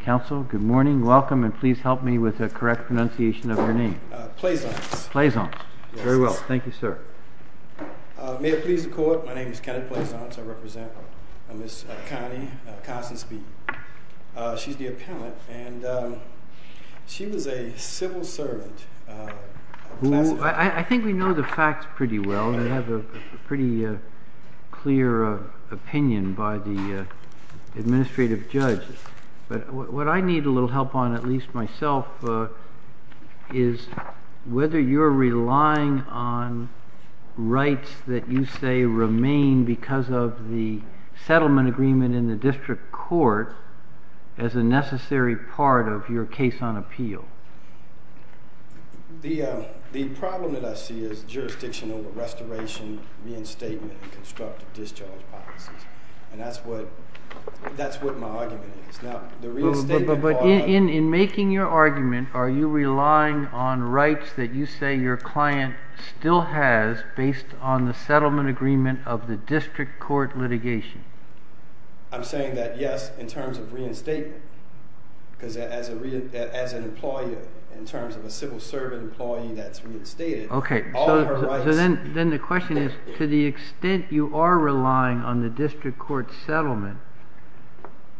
Counsel, good morning. Welcome, and please help me with the correct pronunciation of your name. Plaisance. Plaisance. Very well. Thank you, sir. May it please the Court, my name is Kenneth Plaisance. I represent Ms. Connie Constance Beaton. She's the appellant, and she was a civil servant. I think we know the facts pretty well. We have a pretty clear opinion by the administrative judge. But what I need a little help on, at least myself, is whether you're relying on rights that you say remain because of the settlement agreement in the district court as a necessary part of your case on appeal. The problem that I see is jurisdiction over restoration, reinstatement, and constructive discharge policies. And that's what my argument is. But in making your argument, are you relying on rights that you say your client still has based on the settlement agreement of the district court litigation? I'm saying that yes, in terms of reinstatement. Because as an employee, in terms of a civil servant employee that's reinstated, all of her rights— Okay, so then the question is, to the extent you are relying on the district court settlement,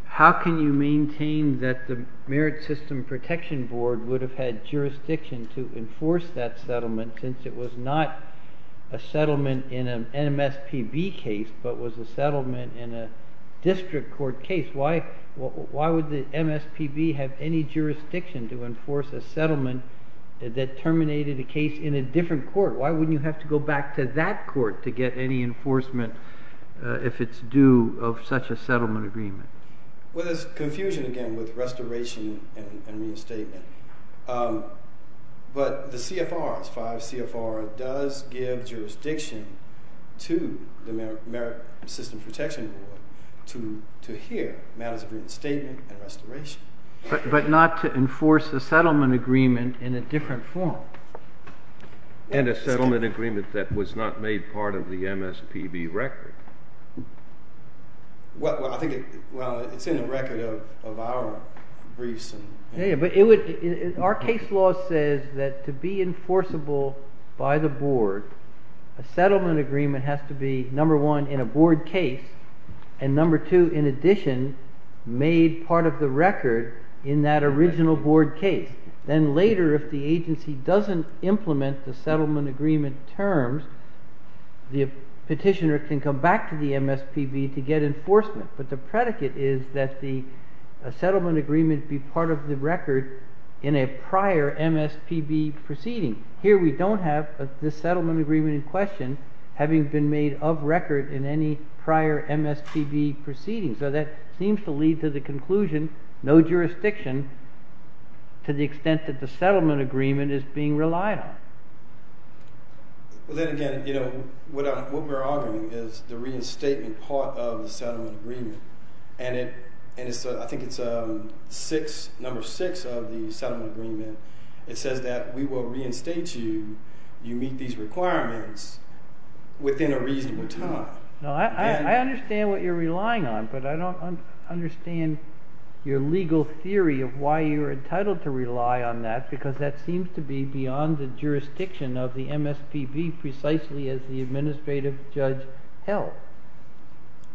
how can you maintain that the Merit System Protection Board would have had jurisdiction to enforce that settlement, since it was not a settlement in an MSPB case but was a settlement in a district court case? Why would the MSPB have any jurisdiction to enforce a settlement that terminated a case in a different court? Why wouldn't you have to go back to that court to get any enforcement if it's due of such a settlement agreement? Well, there's confusion again with restoration and reinstatement. But the CFR, 5 CFR, does give jurisdiction to the Merit System Protection Board to hear matters of reinstatement and restoration. But not to enforce a settlement agreement in a different form. And a settlement agreement that was not made part of the MSPB record. Well, I think—well, it's in the record of our briefs. Yeah, but it would—our case law says that to be enforceable by the board, a settlement agreement has to be, number one, in a board case, and number two, in addition, made part of the record in that original board case. Then later, if the agency doesn't implement the settlement agreement terms, the petitioner can come back to the MSPB to get enforcement. But the predicate is that the settlement agreement be part of the record in a prior MSPB proceeding. Here we don't have this settlement agreement in question having been made of record in any prior MSPB proceedings. So that seems to lead to the conclusion, no jurisdiction to the extent that the settlement agreement is being relied on. Well, then again, you know, what we're arguing is the reinstatement part of the settlement agreement. And I think it's number six of the settlement agreement. It says that we will reinstate you, you meet these requirements within a reasonable time. No, I understand what you're relying on, but I don't understand your legal theory of why you're entitled to rely on that because that seems to be beyond the jurisdiction of the MSPB precisely as the administrative judge held.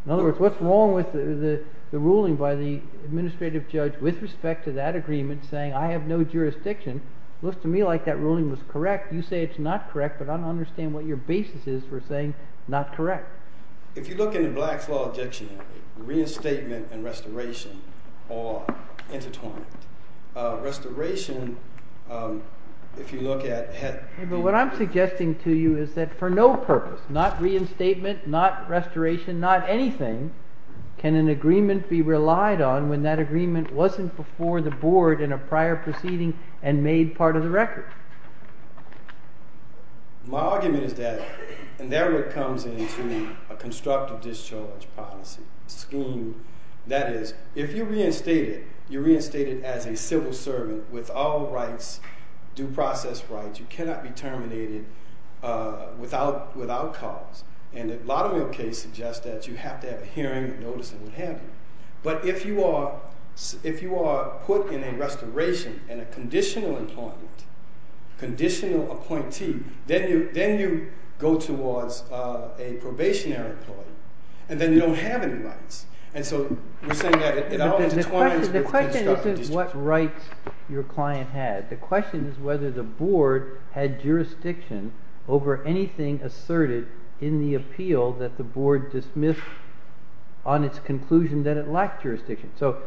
In other words, what's wrong with the ruling by the administrative judge with respect to that agreement saying, I have no jurisdiction, looks to me like that ruling was correct. You say it's not correct, but I don't understand what your basis is for saying not correct. If you look in the Black Flaw Dictionary, reinstatement and restoration are intertwined. Restoration, if you look at… But what I'm suggesting to you is that for no purpose, not reinstatement, not restoration, not anything, can an agreement be relied on when that agreement wasn't before the board in a prior proceeding and made part of the record. My argument is that, and that really comes into a constructive discharge policy scheme. That is, if you're reinstated, you're reinstated as a civil servant with all rights, due process rights, you cannot be terminated without cause. And a lot of the cases suggest that you have to have a hearing, notice, and what have you. But if you are put in a restoration and a conditional employment, conditional appointee, then you go towards a probationary employment, and then you don't have any rights. And so we're saying that it all intertwines with constructive discharge. The question isn't what rights your client had. The question is whether the board had jurisdiction over anything asserted in the appeal that the board dismissed on its conclusion that it lacked jurisdiction. So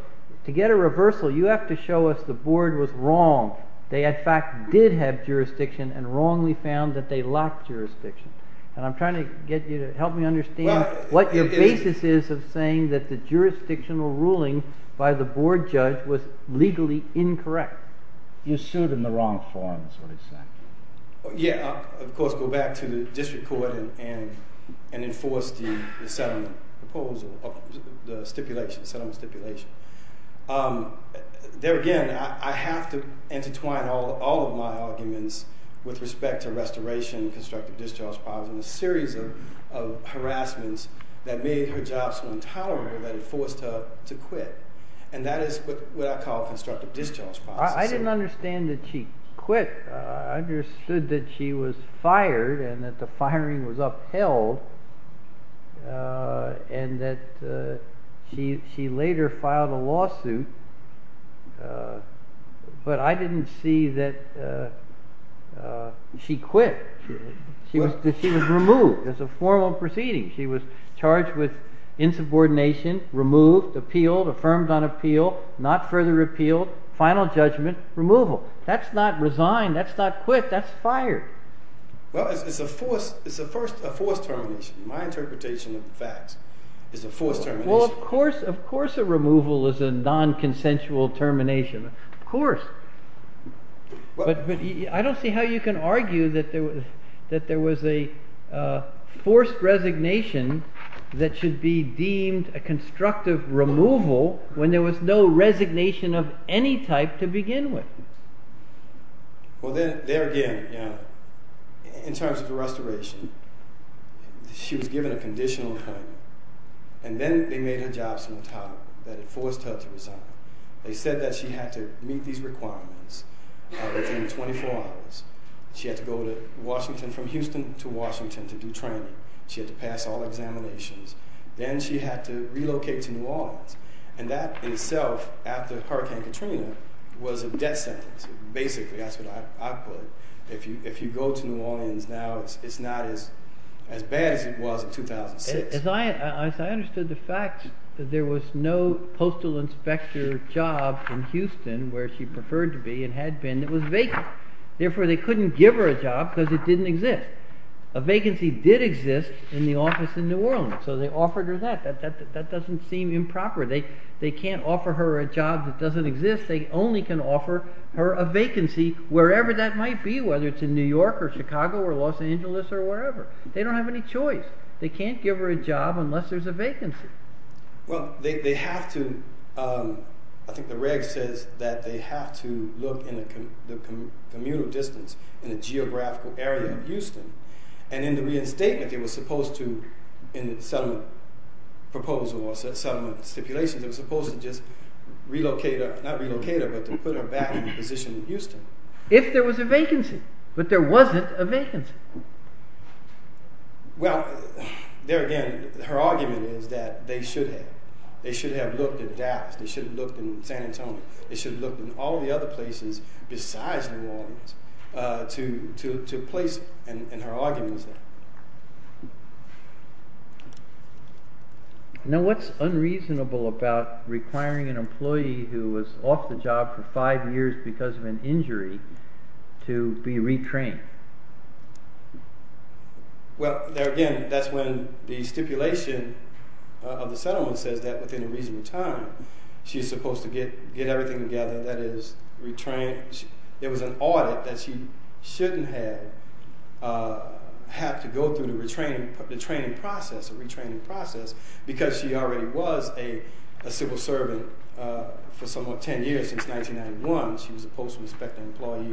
to get a reversal, you have to show us the board was wrong. They, in fact, did have jurisdiction and wrongly found that they lacked jurisdiction. And I'm trying to get you to help me understand what your basis is of saying that the jurisdictional ruling by the board judge was legally incorrect. You sued in the wrong forum, is what he's saying. Yeah, of course, go back to the district court and enforce the settlement proposal, the settlement stipulation. There again, I have to intertwine all of my arguments with respect to restoration, constructive discharge policy, and a series of harassments that made her job so intolerable that it forced her to quit. And that is what I call constructive discharge policy. I didn't understand that she quit. I understood that she was fired and that the firing was upheld and that she later filed a lawsuit. But I didn't see that she quit. She was removed as a formal proceeding. She was charged with insubordination, removed, appealed, affirmed on appeal, not further repealed, final judgment, removal. That's not resign. That's not quit. That's fired. Well, it's a forced termination. My interpretation of the facts is a forced termination. Well, of course a removal is a non-consensual termination. Of course. But I don't see how you can argue that there was a forced resignation that should be deemed a constructive removal when there was no resignation of any type to begin with. Well, there again, in terms of the restoration, she was given a conditional term. And then they made her job so intolerable that it forced her to resign. They said that she had to meet these requirements within 24 hours. She had to go to Washington, from Houston to Washington, to do training. She had to pass all examinations. Then she had to relocate to New Orleans. And that itself, after Hurricane Katrina, was a death sentence. Basically, that's what I put it. If you go to New Orleans now, it's not as bad as it was in 2006. As I understood the facts, there was no postal inspector job in Houston, where she preferred to be and had been, that was vacant. Therefore, they couldn't give her a job because it didn't exist. A vacancy did exist in the office in New Orleans, so they offered her that. That doesn't seem improper. They can't offer her a job that doesn't exist. They only can offer her a vacancy wherever that might be, whether it's in New York or Chicago or Los Angeles or wherever. They don't have any choice. They can't give her a job unless there's a vacancy. Well, they have to, I think the reg says that they have to look in the communal distance, in the geographical area of Houston. And in the reinstatement, they were supposed to, in the settlement proposal or settlement stipulations, they were supposed to just relocate her, not relocate her, but to put her back in a position in Houston. If there was a vacancy. But there wasn't a vacancy. Well, there again, her argument is that they should have. They should have looked at DAPS. They should have looked in San Antonio. They should have looked in all the other places besides New Orleans to place her. And her argument is that. Now, what's unreasonable about requiring an employee who was off the job for five years because of an injury to be retrained? Well, there again, that's when the stipulation of the settlement says that within a reasonable time, she's supposed to get everything together. That is, it was an audit that she shouldn't have to go through the retraining process, the retraining process, because she already was a civil servant for somewhat 10 years, since 1991. She was a postal inspector employee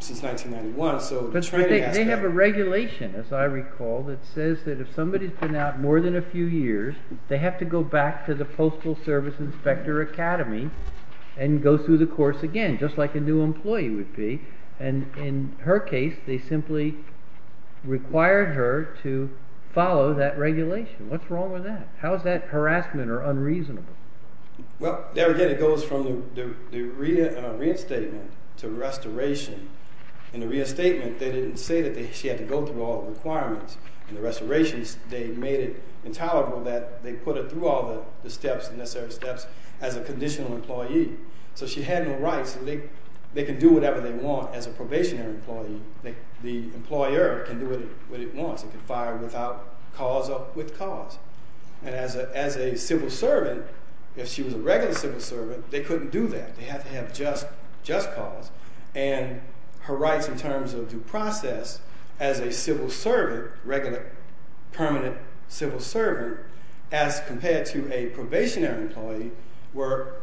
since 1991. But they have a regulation, as I recall, that says that if somebody's been out more than a few years, they have to go back to the Postal Service Inspector Academy and go through the course again, just like a new employee would be. And in her case, they simply required her to follow that regulation. What's wrong with that? How is that harassment or unreasonable? Well, there again, it goes from the reinstatement to restoration. In the reinstatement, they didn't say that she had to go through all the requirements. In the restoration, they made it intolerable that they put her through all the steps, the necessary steps, as a conditional employee. So she had no rights. They can do whatever they want as a probationary employee. The employer can do what it wants. It can fire without cause or with cause. And as a civil servant, if she was a regular civil servant, they couldn't do that. They have to have just cause. And her rights in terms of due process as a civil servant, regular permanent civil servant, as compared to a probationary employee, were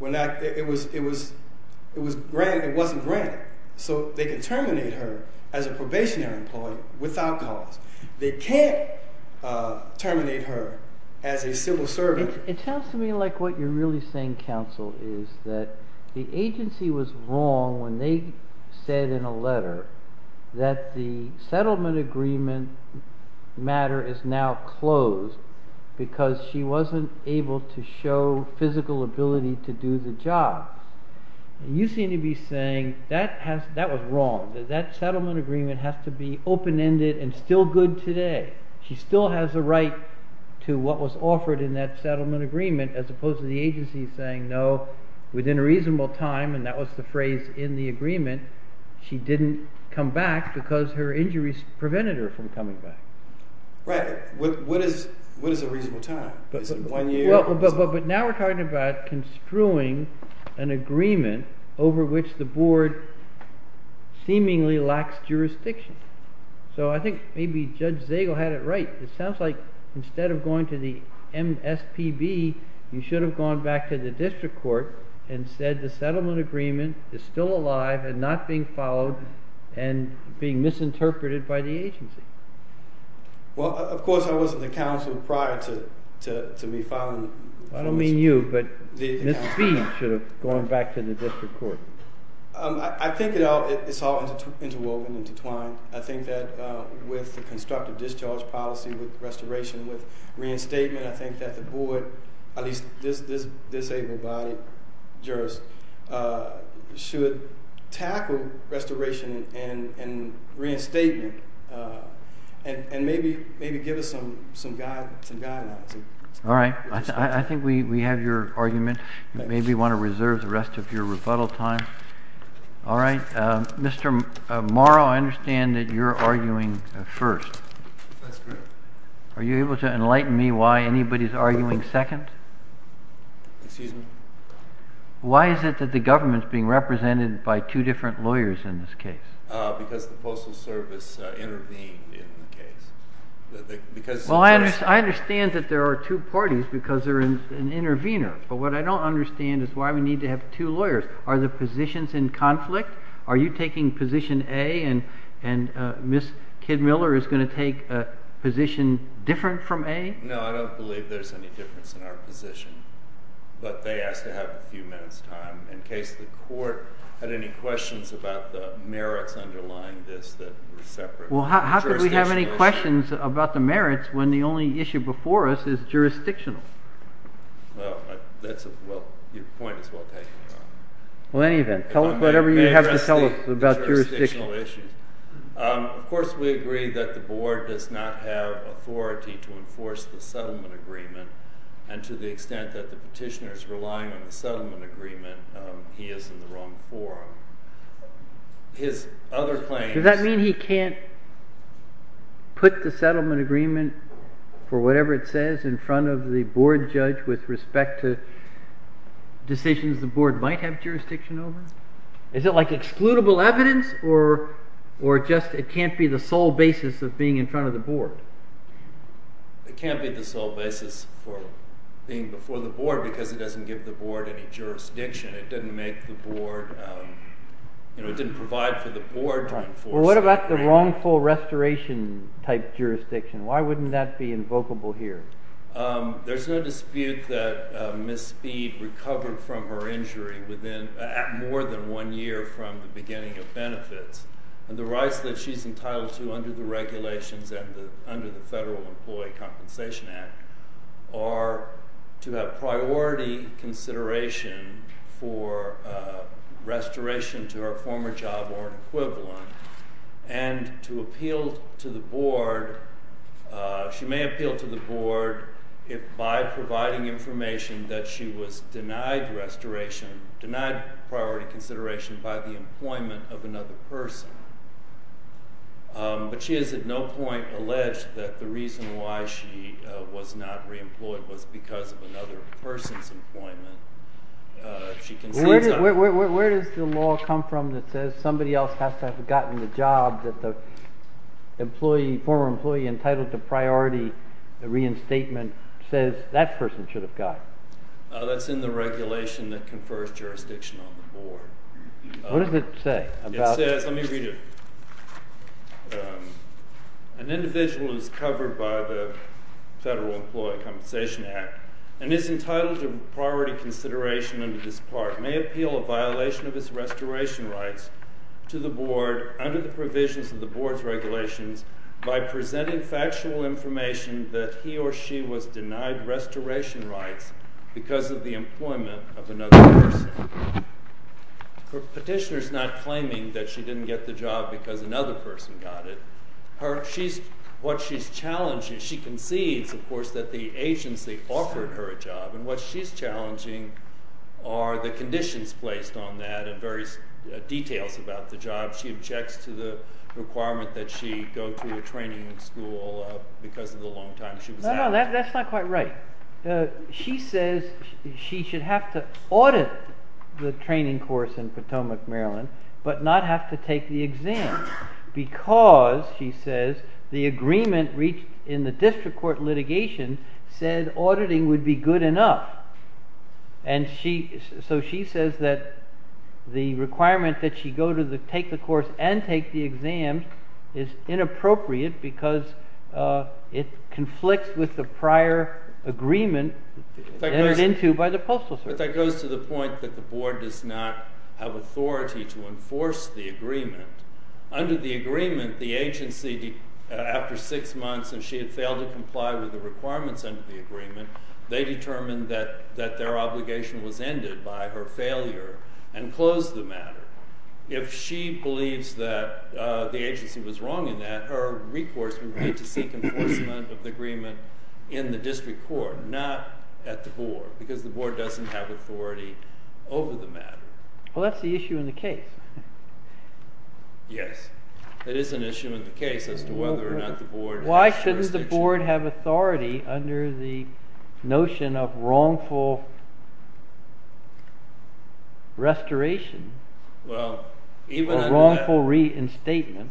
not—it was—it wasn't granted. So they can terminate her as a probationary employee without cause. They can't terminate her as a civil servant. It sounds to me like what you're really saying, counsel, is that the agency was wrong when they said in a letter that the settlement agreement matter is now closed because she wasn't able to show physical ability to do the job. And you seem to be saying that was wrong, that that settlement agreement has to be open-ended and still good today. She still has a right to what was offered in that settlement agreement, as opposed to the agency saying, no, within a reasonable time—and that was the phrase in the agreement—she didn't come back because her injuries prevented her from coming back. Right. What is a reasonable time? But now we're talking about construing an agreement over which the board seemingly lacks jurisdiction. So I think maybe Judge Zagel had it right. It sounds like instead of going to the MSPB, you should have gone back to the district court and said the settlement agreement is still alive and not being followed and being misinterpreted by the agency. Well, of course, I was at the council prior to me filing. I don't mean you, but Ms. Speed should have gone back to the district court. I think it's all interwoven and intertwined. I think that with the constructive discharge policy, with restoration, with reinstatement, I think that the board, at least this disabled body jurist, should tackle restoration and reinstatement and maybe give us some guidelines. All right. I think we have your argument. Maybe you want to reserve the rest of your rebuttal time. All right. Mr. Morrow, I understand that you're arguing first. That's correct. Are you able to enlighten me why anybody's arguing second? Excuse me? Why is it that the government's being represented by two different lawyers in this case? Because the Postal Service intervened in the case. Well, I understand that there are two parties because they're an intervener. But what I don't understand is why we need to have two lawyers. Are the positions in conflict? Are you taking position A and Ms. Kidmiller is going to take a position different from A? No, I don't believe there's any difference in our position. But they asked to have a few minutes' time in case the court had any questions about the merits underlying this that were separate. Well, how could we have any questions about the merits when the only issue before us is jurisdictional? Well, your point is well taken. Well, in any event, tell us whatever you have to tell us about jurisdictional issues. Of course, we agree that the board does not have authority to enforce the settlement agreement. And to the extent that the petitioner is relying on the settlement agreement, he is in the wrong forum. Does that mean he can't put the settlement agreement for whatever it says in front of the board judge with respect to decisions the board might have jurisdiction over? Is it like excludable evidence or just it can't be the sole basis of being in front of the board? It can't be the sole basis for being before the board because it doesn't give the board any jurisdiction. It didn't make the board – it didn't provide for the board to enforce the agreement. Well, what about the wrongful restoration type jurisdiction? Why wouldn't that be invocable here? There's no dispute that Ms. Speed recovered from her injury within – at more than one year from the beginning of benefits. And the rights that she's entitled to under the regulations and under the Federal Employee Compensation Act are to have priority consideration for restoration to her former job or equivalent. And to appeal to the board – she may appeal to the board by providing information that she was denied restoration, denied priority consideration by the employment of another person. But she has at no point alleged that the reason why she was not reemployed was because of another person's employment. Where does the law come from that says somebody else has to have gotten the job that the former employee entitled to priority reinstatement says that person should have gotten? That's in the regulation that confers jurisdiction on the board. What does it say? It says – let me read it. An individual who is covered by the Federal Employee Compensation Act and is entitled to priority consideration under this part may appeal a violation of his restoration rights to the board under the provisions of the board's regulations by presenting factual information that he or she was denied restoration rights because of the employment of another person. Petitioner's not claiming that she didn't get the job because another person got it. What she's challenging – she concedes, of course, that the agency offered her a job. And what she's challenging are the conditions placed on that and various details about the job. She objects to the requirement that she go to a training school because of the long time she was out. No, no, that's not quite right. She says she should have to audit the training course in Potomac, Maryland, but not have to take the exam because, she says, the agreement reached in the district court litigation said auditing would be good enough. And so she says that the requirement that she go to take the course and take the exam is inappropriate because it conflicts with the prior agreement entered into by the postal service. But that goes to the point that the board does not have authority to enforce the agreement. Under the agreement, the agency, after six months and she had failed to comply with the requirements under the agreement, they determined that their obligation was ended by her failure and closed the matter. If she believes that the agency was wrong in that, her recourse would be to seek enforcement of the agreement in the district court, not at the board, because the board doesn't have authority over the matter. Well, that's the issue in the case. Yes, it is an issue in the case as to whether or not the board has jurisdiction. Why shouldn't the board have authority under the notion of wrongful restoration or wrongful reinstatement?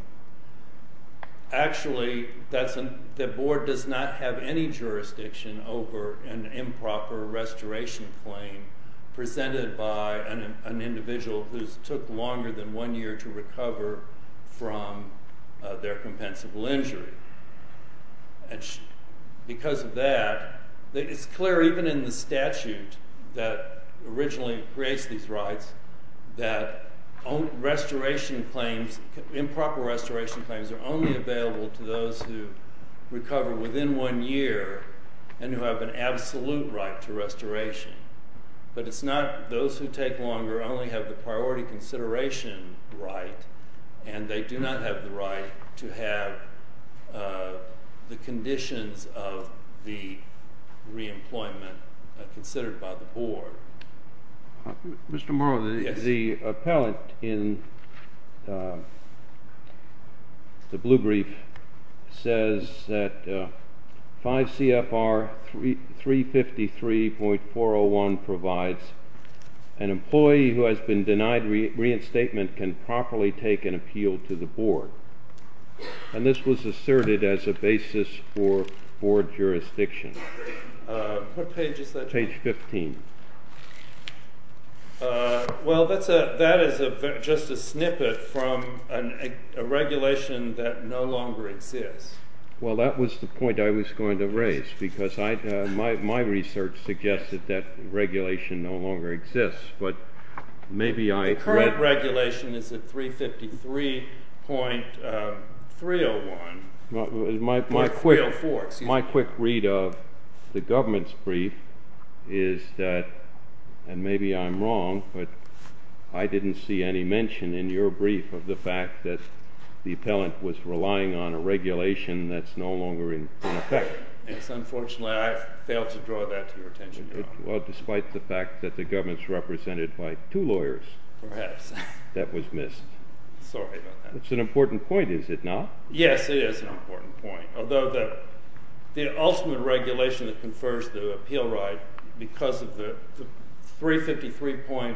Actually, the board does not have any jurisdiction over an improper restoration claim presented by an individual who took longer than one year to recover from their compensable injury. Because of that, it's clear even in the statute that originally creates these rights that improper restoration claims are only available to those who recover within one year and who have an absolute right to restoration. But it's not those who take longer only have the priority consideration right, and they do not have the right to have the conditions of the reemployment considered by the board. Mr. Morrow, the appellant in the blue brief says that 5 CFR 353.401 provides an employee who has been denied reinstatement can properly take an appeal to the board. And this was asserted as a basis for board jurisdiction. What page is that? Page 15. Well, that is just a snippet from a regulation that no longer exists. Well, that was the point I was going to raise, because my research suggested that regulation no longer exists. The current regulation is at 353.304. My quick read of the government's brief is that, and maybe I'm wrong, but I didn't see any mention in your brief of the fact that the appellant was relying on a regulation that's no longer in effect. Yes, unfortunately, I failed to draw that to your attention, Your Honor. Well, despite the fact that the government's represented by two lawyers. Perhaps. That was missed. Sorry about that. It's an important point, is it not? Yes, it is an important point, although the ultimate regulation that confers the appeal right, because of the 353.304,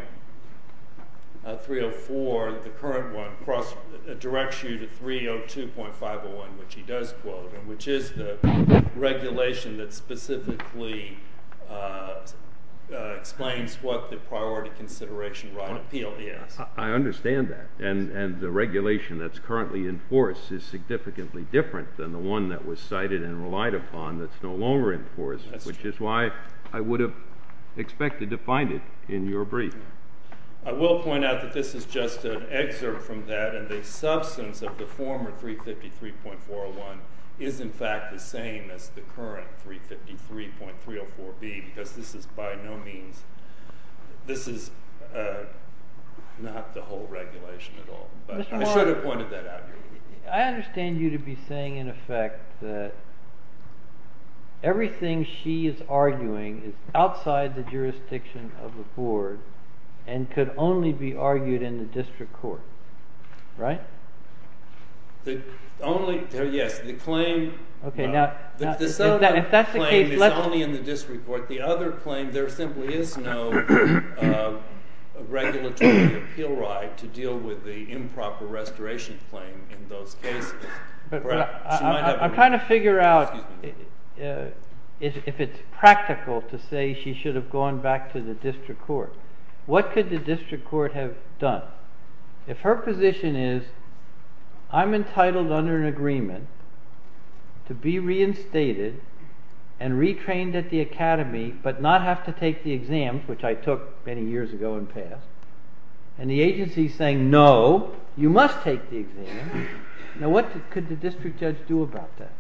the current one, directs you to 302.501, which he does quote, and which is the regulation that specifically explains what the priority consideration right on appeal is. I understand that, and the regulation that's currently in force is significantly different than the one that was cited and relied upon that's no longer in force. That's true. Which is why I would have expected to find it in your brief. And I will point out that this is just an excerpt from that, and the substance of the former 353.401 is, in fact, the same as the current 353.304B, because this is by no means, this is not the whole regulation at all. I should have pointed that out to you. I understand you to be saying, in effect, that everything she is arguing is outside the jurisdiction of the board and could only be argued in the district court, right? Yes, the claim is only in the district court. The other claim, there simply is no regulatory appeal right to deal with the improper restoration claim in those cases. I'm trying to figure out if it's practical to say she should have gone back to the district court. What could the district court have done? If her position is, I'm entitled under an agreement to be reinstated and retrained at the academy, but not have to take the exams, which I took many years ago and passed, and the agency is saying, no, you must take the exam, now what could the district judge do about that?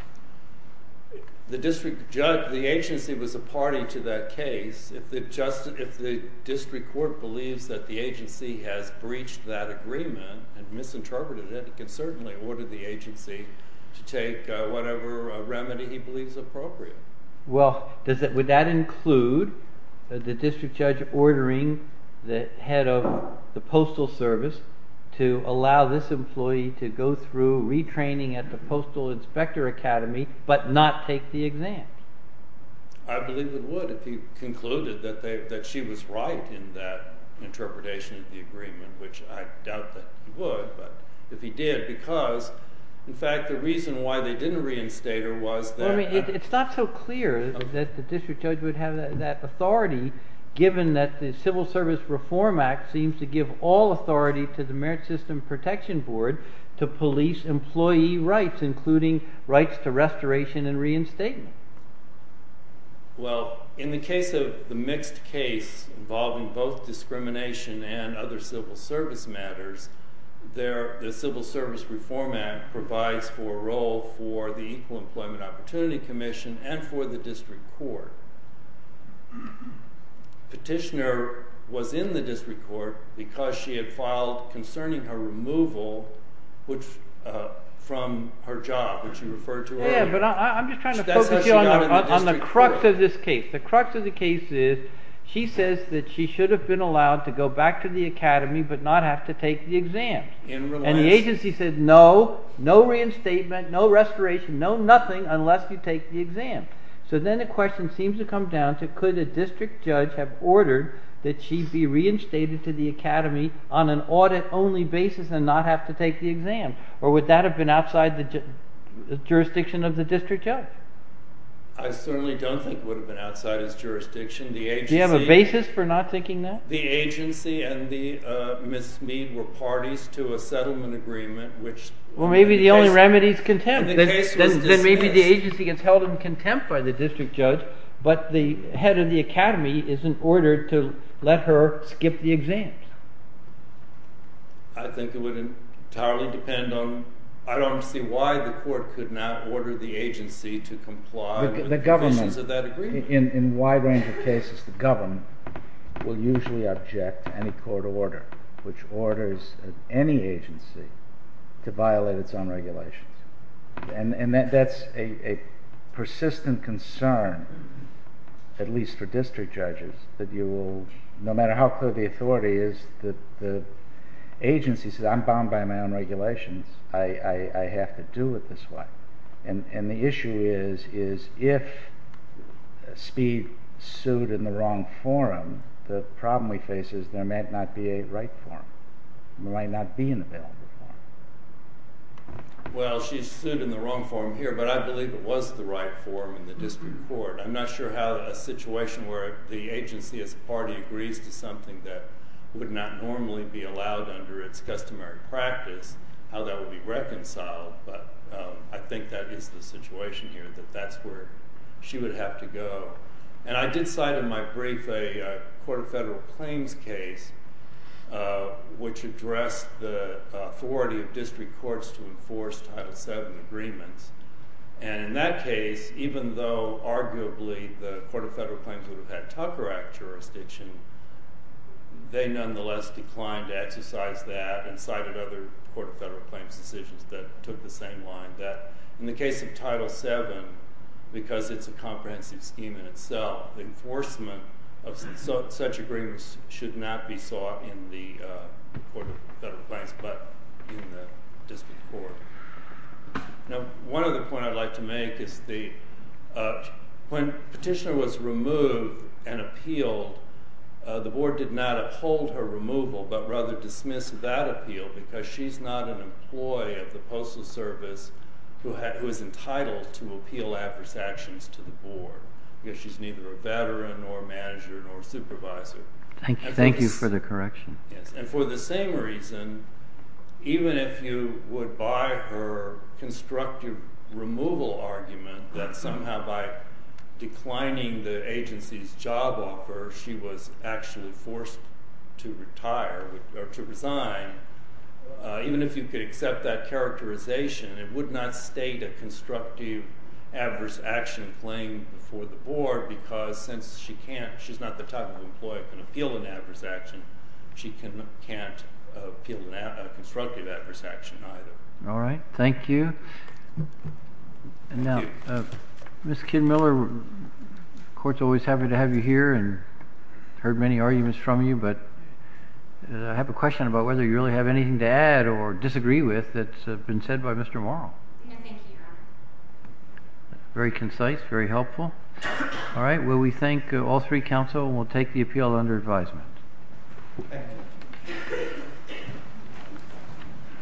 The agency was a party to that case. If the district court believes that the agency has breached that agreement and misinterpreted it, it can certainly order the agency to take whatever remedy he believes appropriate. Well, would that include the district judge ordering the head of the postal service to allow this employee to go through retraining at the postal inspector academy, but not take the exams? I believe it would, if he concluded that she was right in that interpretation of the agreement, which I doubt that he would, but if he did, because, in fact, the reason why they didn't reinstate her was that It's not so clear that the district judge would have that authority, given that the Civil Service Reform Act seems to give all authority to the Merit System Protection Board to police employee rights, including rights to restoration and reinstatement. Well, in the case of the mixed case involving both discrimination and other civil service matters, the Civil Service Reform Act provides for a role for the Equal Employment Opportunity Commission and for the district court. Petitioner was in the district court because she had filed concerning her removal from her job, which you referred to earlier. But I'm just trying to focus you on the crux of this case. The crux of the case is, she says that she should have been allowed to go back to the academy, but not have to take the exam. And the agency said, no, no reinstatement, no restoration, no nothing, unless you take the exam. So then the question seems to come down to, could a district judge have ordered that she be reinstated to the academy on an audit-only basis and not have to take the exam? Or would that have been outside the jurisdiction of the district judge? I certainly don't think it would have been outside his jurisdiction. Do you have a basis for not thinking that? The agency and Ms. Mead were parties to a settlement agreement, which… Then maybe the agency gets held in contempt by the district judge, but the head of the academy isn't ordered to let her skip the exams. I think it would entirely depend on—I don't see why the court could not order the agency to comply with pieces of that agreement. In a wide range of cases, the government will usually object to any court order which orders any agency to violate its own regulations. And that's a persistent concern, at least for district judges, that no matter how clear the authority is, the agency says, I'm bound by my own regulations, I have to do it this way. And the issue is, if Speed sued in the wrong forum, the problem we face is there might not be a right forum. There might not be an available forum. Well, she sued in the wrong forum here, but I believe it was the right forum in the district court. I'm not sure how a situation where the agency as a party agrees to something that would not normally be allowed under its customary practice, how that would be reconciled. But I think that is the situation here, that that's where she would have to go. And I did cite in my brief a Court of Federal Claims case which addressed the authority of district courts to enforce Title VII agreements. And in that case, even though arguably the Court of Federal Claims would have had Tucker Act jurisdiction, they nonetheless declined to exercise that and cited other Court of Federal Claims decisions that took the same line. In the case of Title VII, because it's a comprehensive scheme in itself, enforcement of such agreements should not be sought in the Court of Federal Claims, but in the district court. Now, one other point I'd like to make is when Petitioner was removed and appealed, the board did not uphold her removal, but rather dismiss that appeal because she's not an employee of the Postal Service who is entitled to appeal adverse actions to the board. She's neither a veteran nor a manager nor a supervisor. Thank you for the correction. And for the same reason, even if you would buy her constructive removal argument that somehow by declining the agency's job offer, she was actually forced to retire or to resign, even if you could accept that characterization, it would not state a constructive adverse action claim for the board because since she can't – she's not the type of employee who can appeal an adverse action. She can't appeal a constructive adverse action either. All right. Thank you. And now, Ms. Kidd-Miller, the Court's always happy to have you here and heard many arguments from you, but I have a question about whether you really have anything to add or disagree with that's been said by Mr. Morrow. No, thank you, Your Honor. Very concise, very helpful. All right. Well, we thank all three counsel and we'll take the appeal under advisement. Thank you.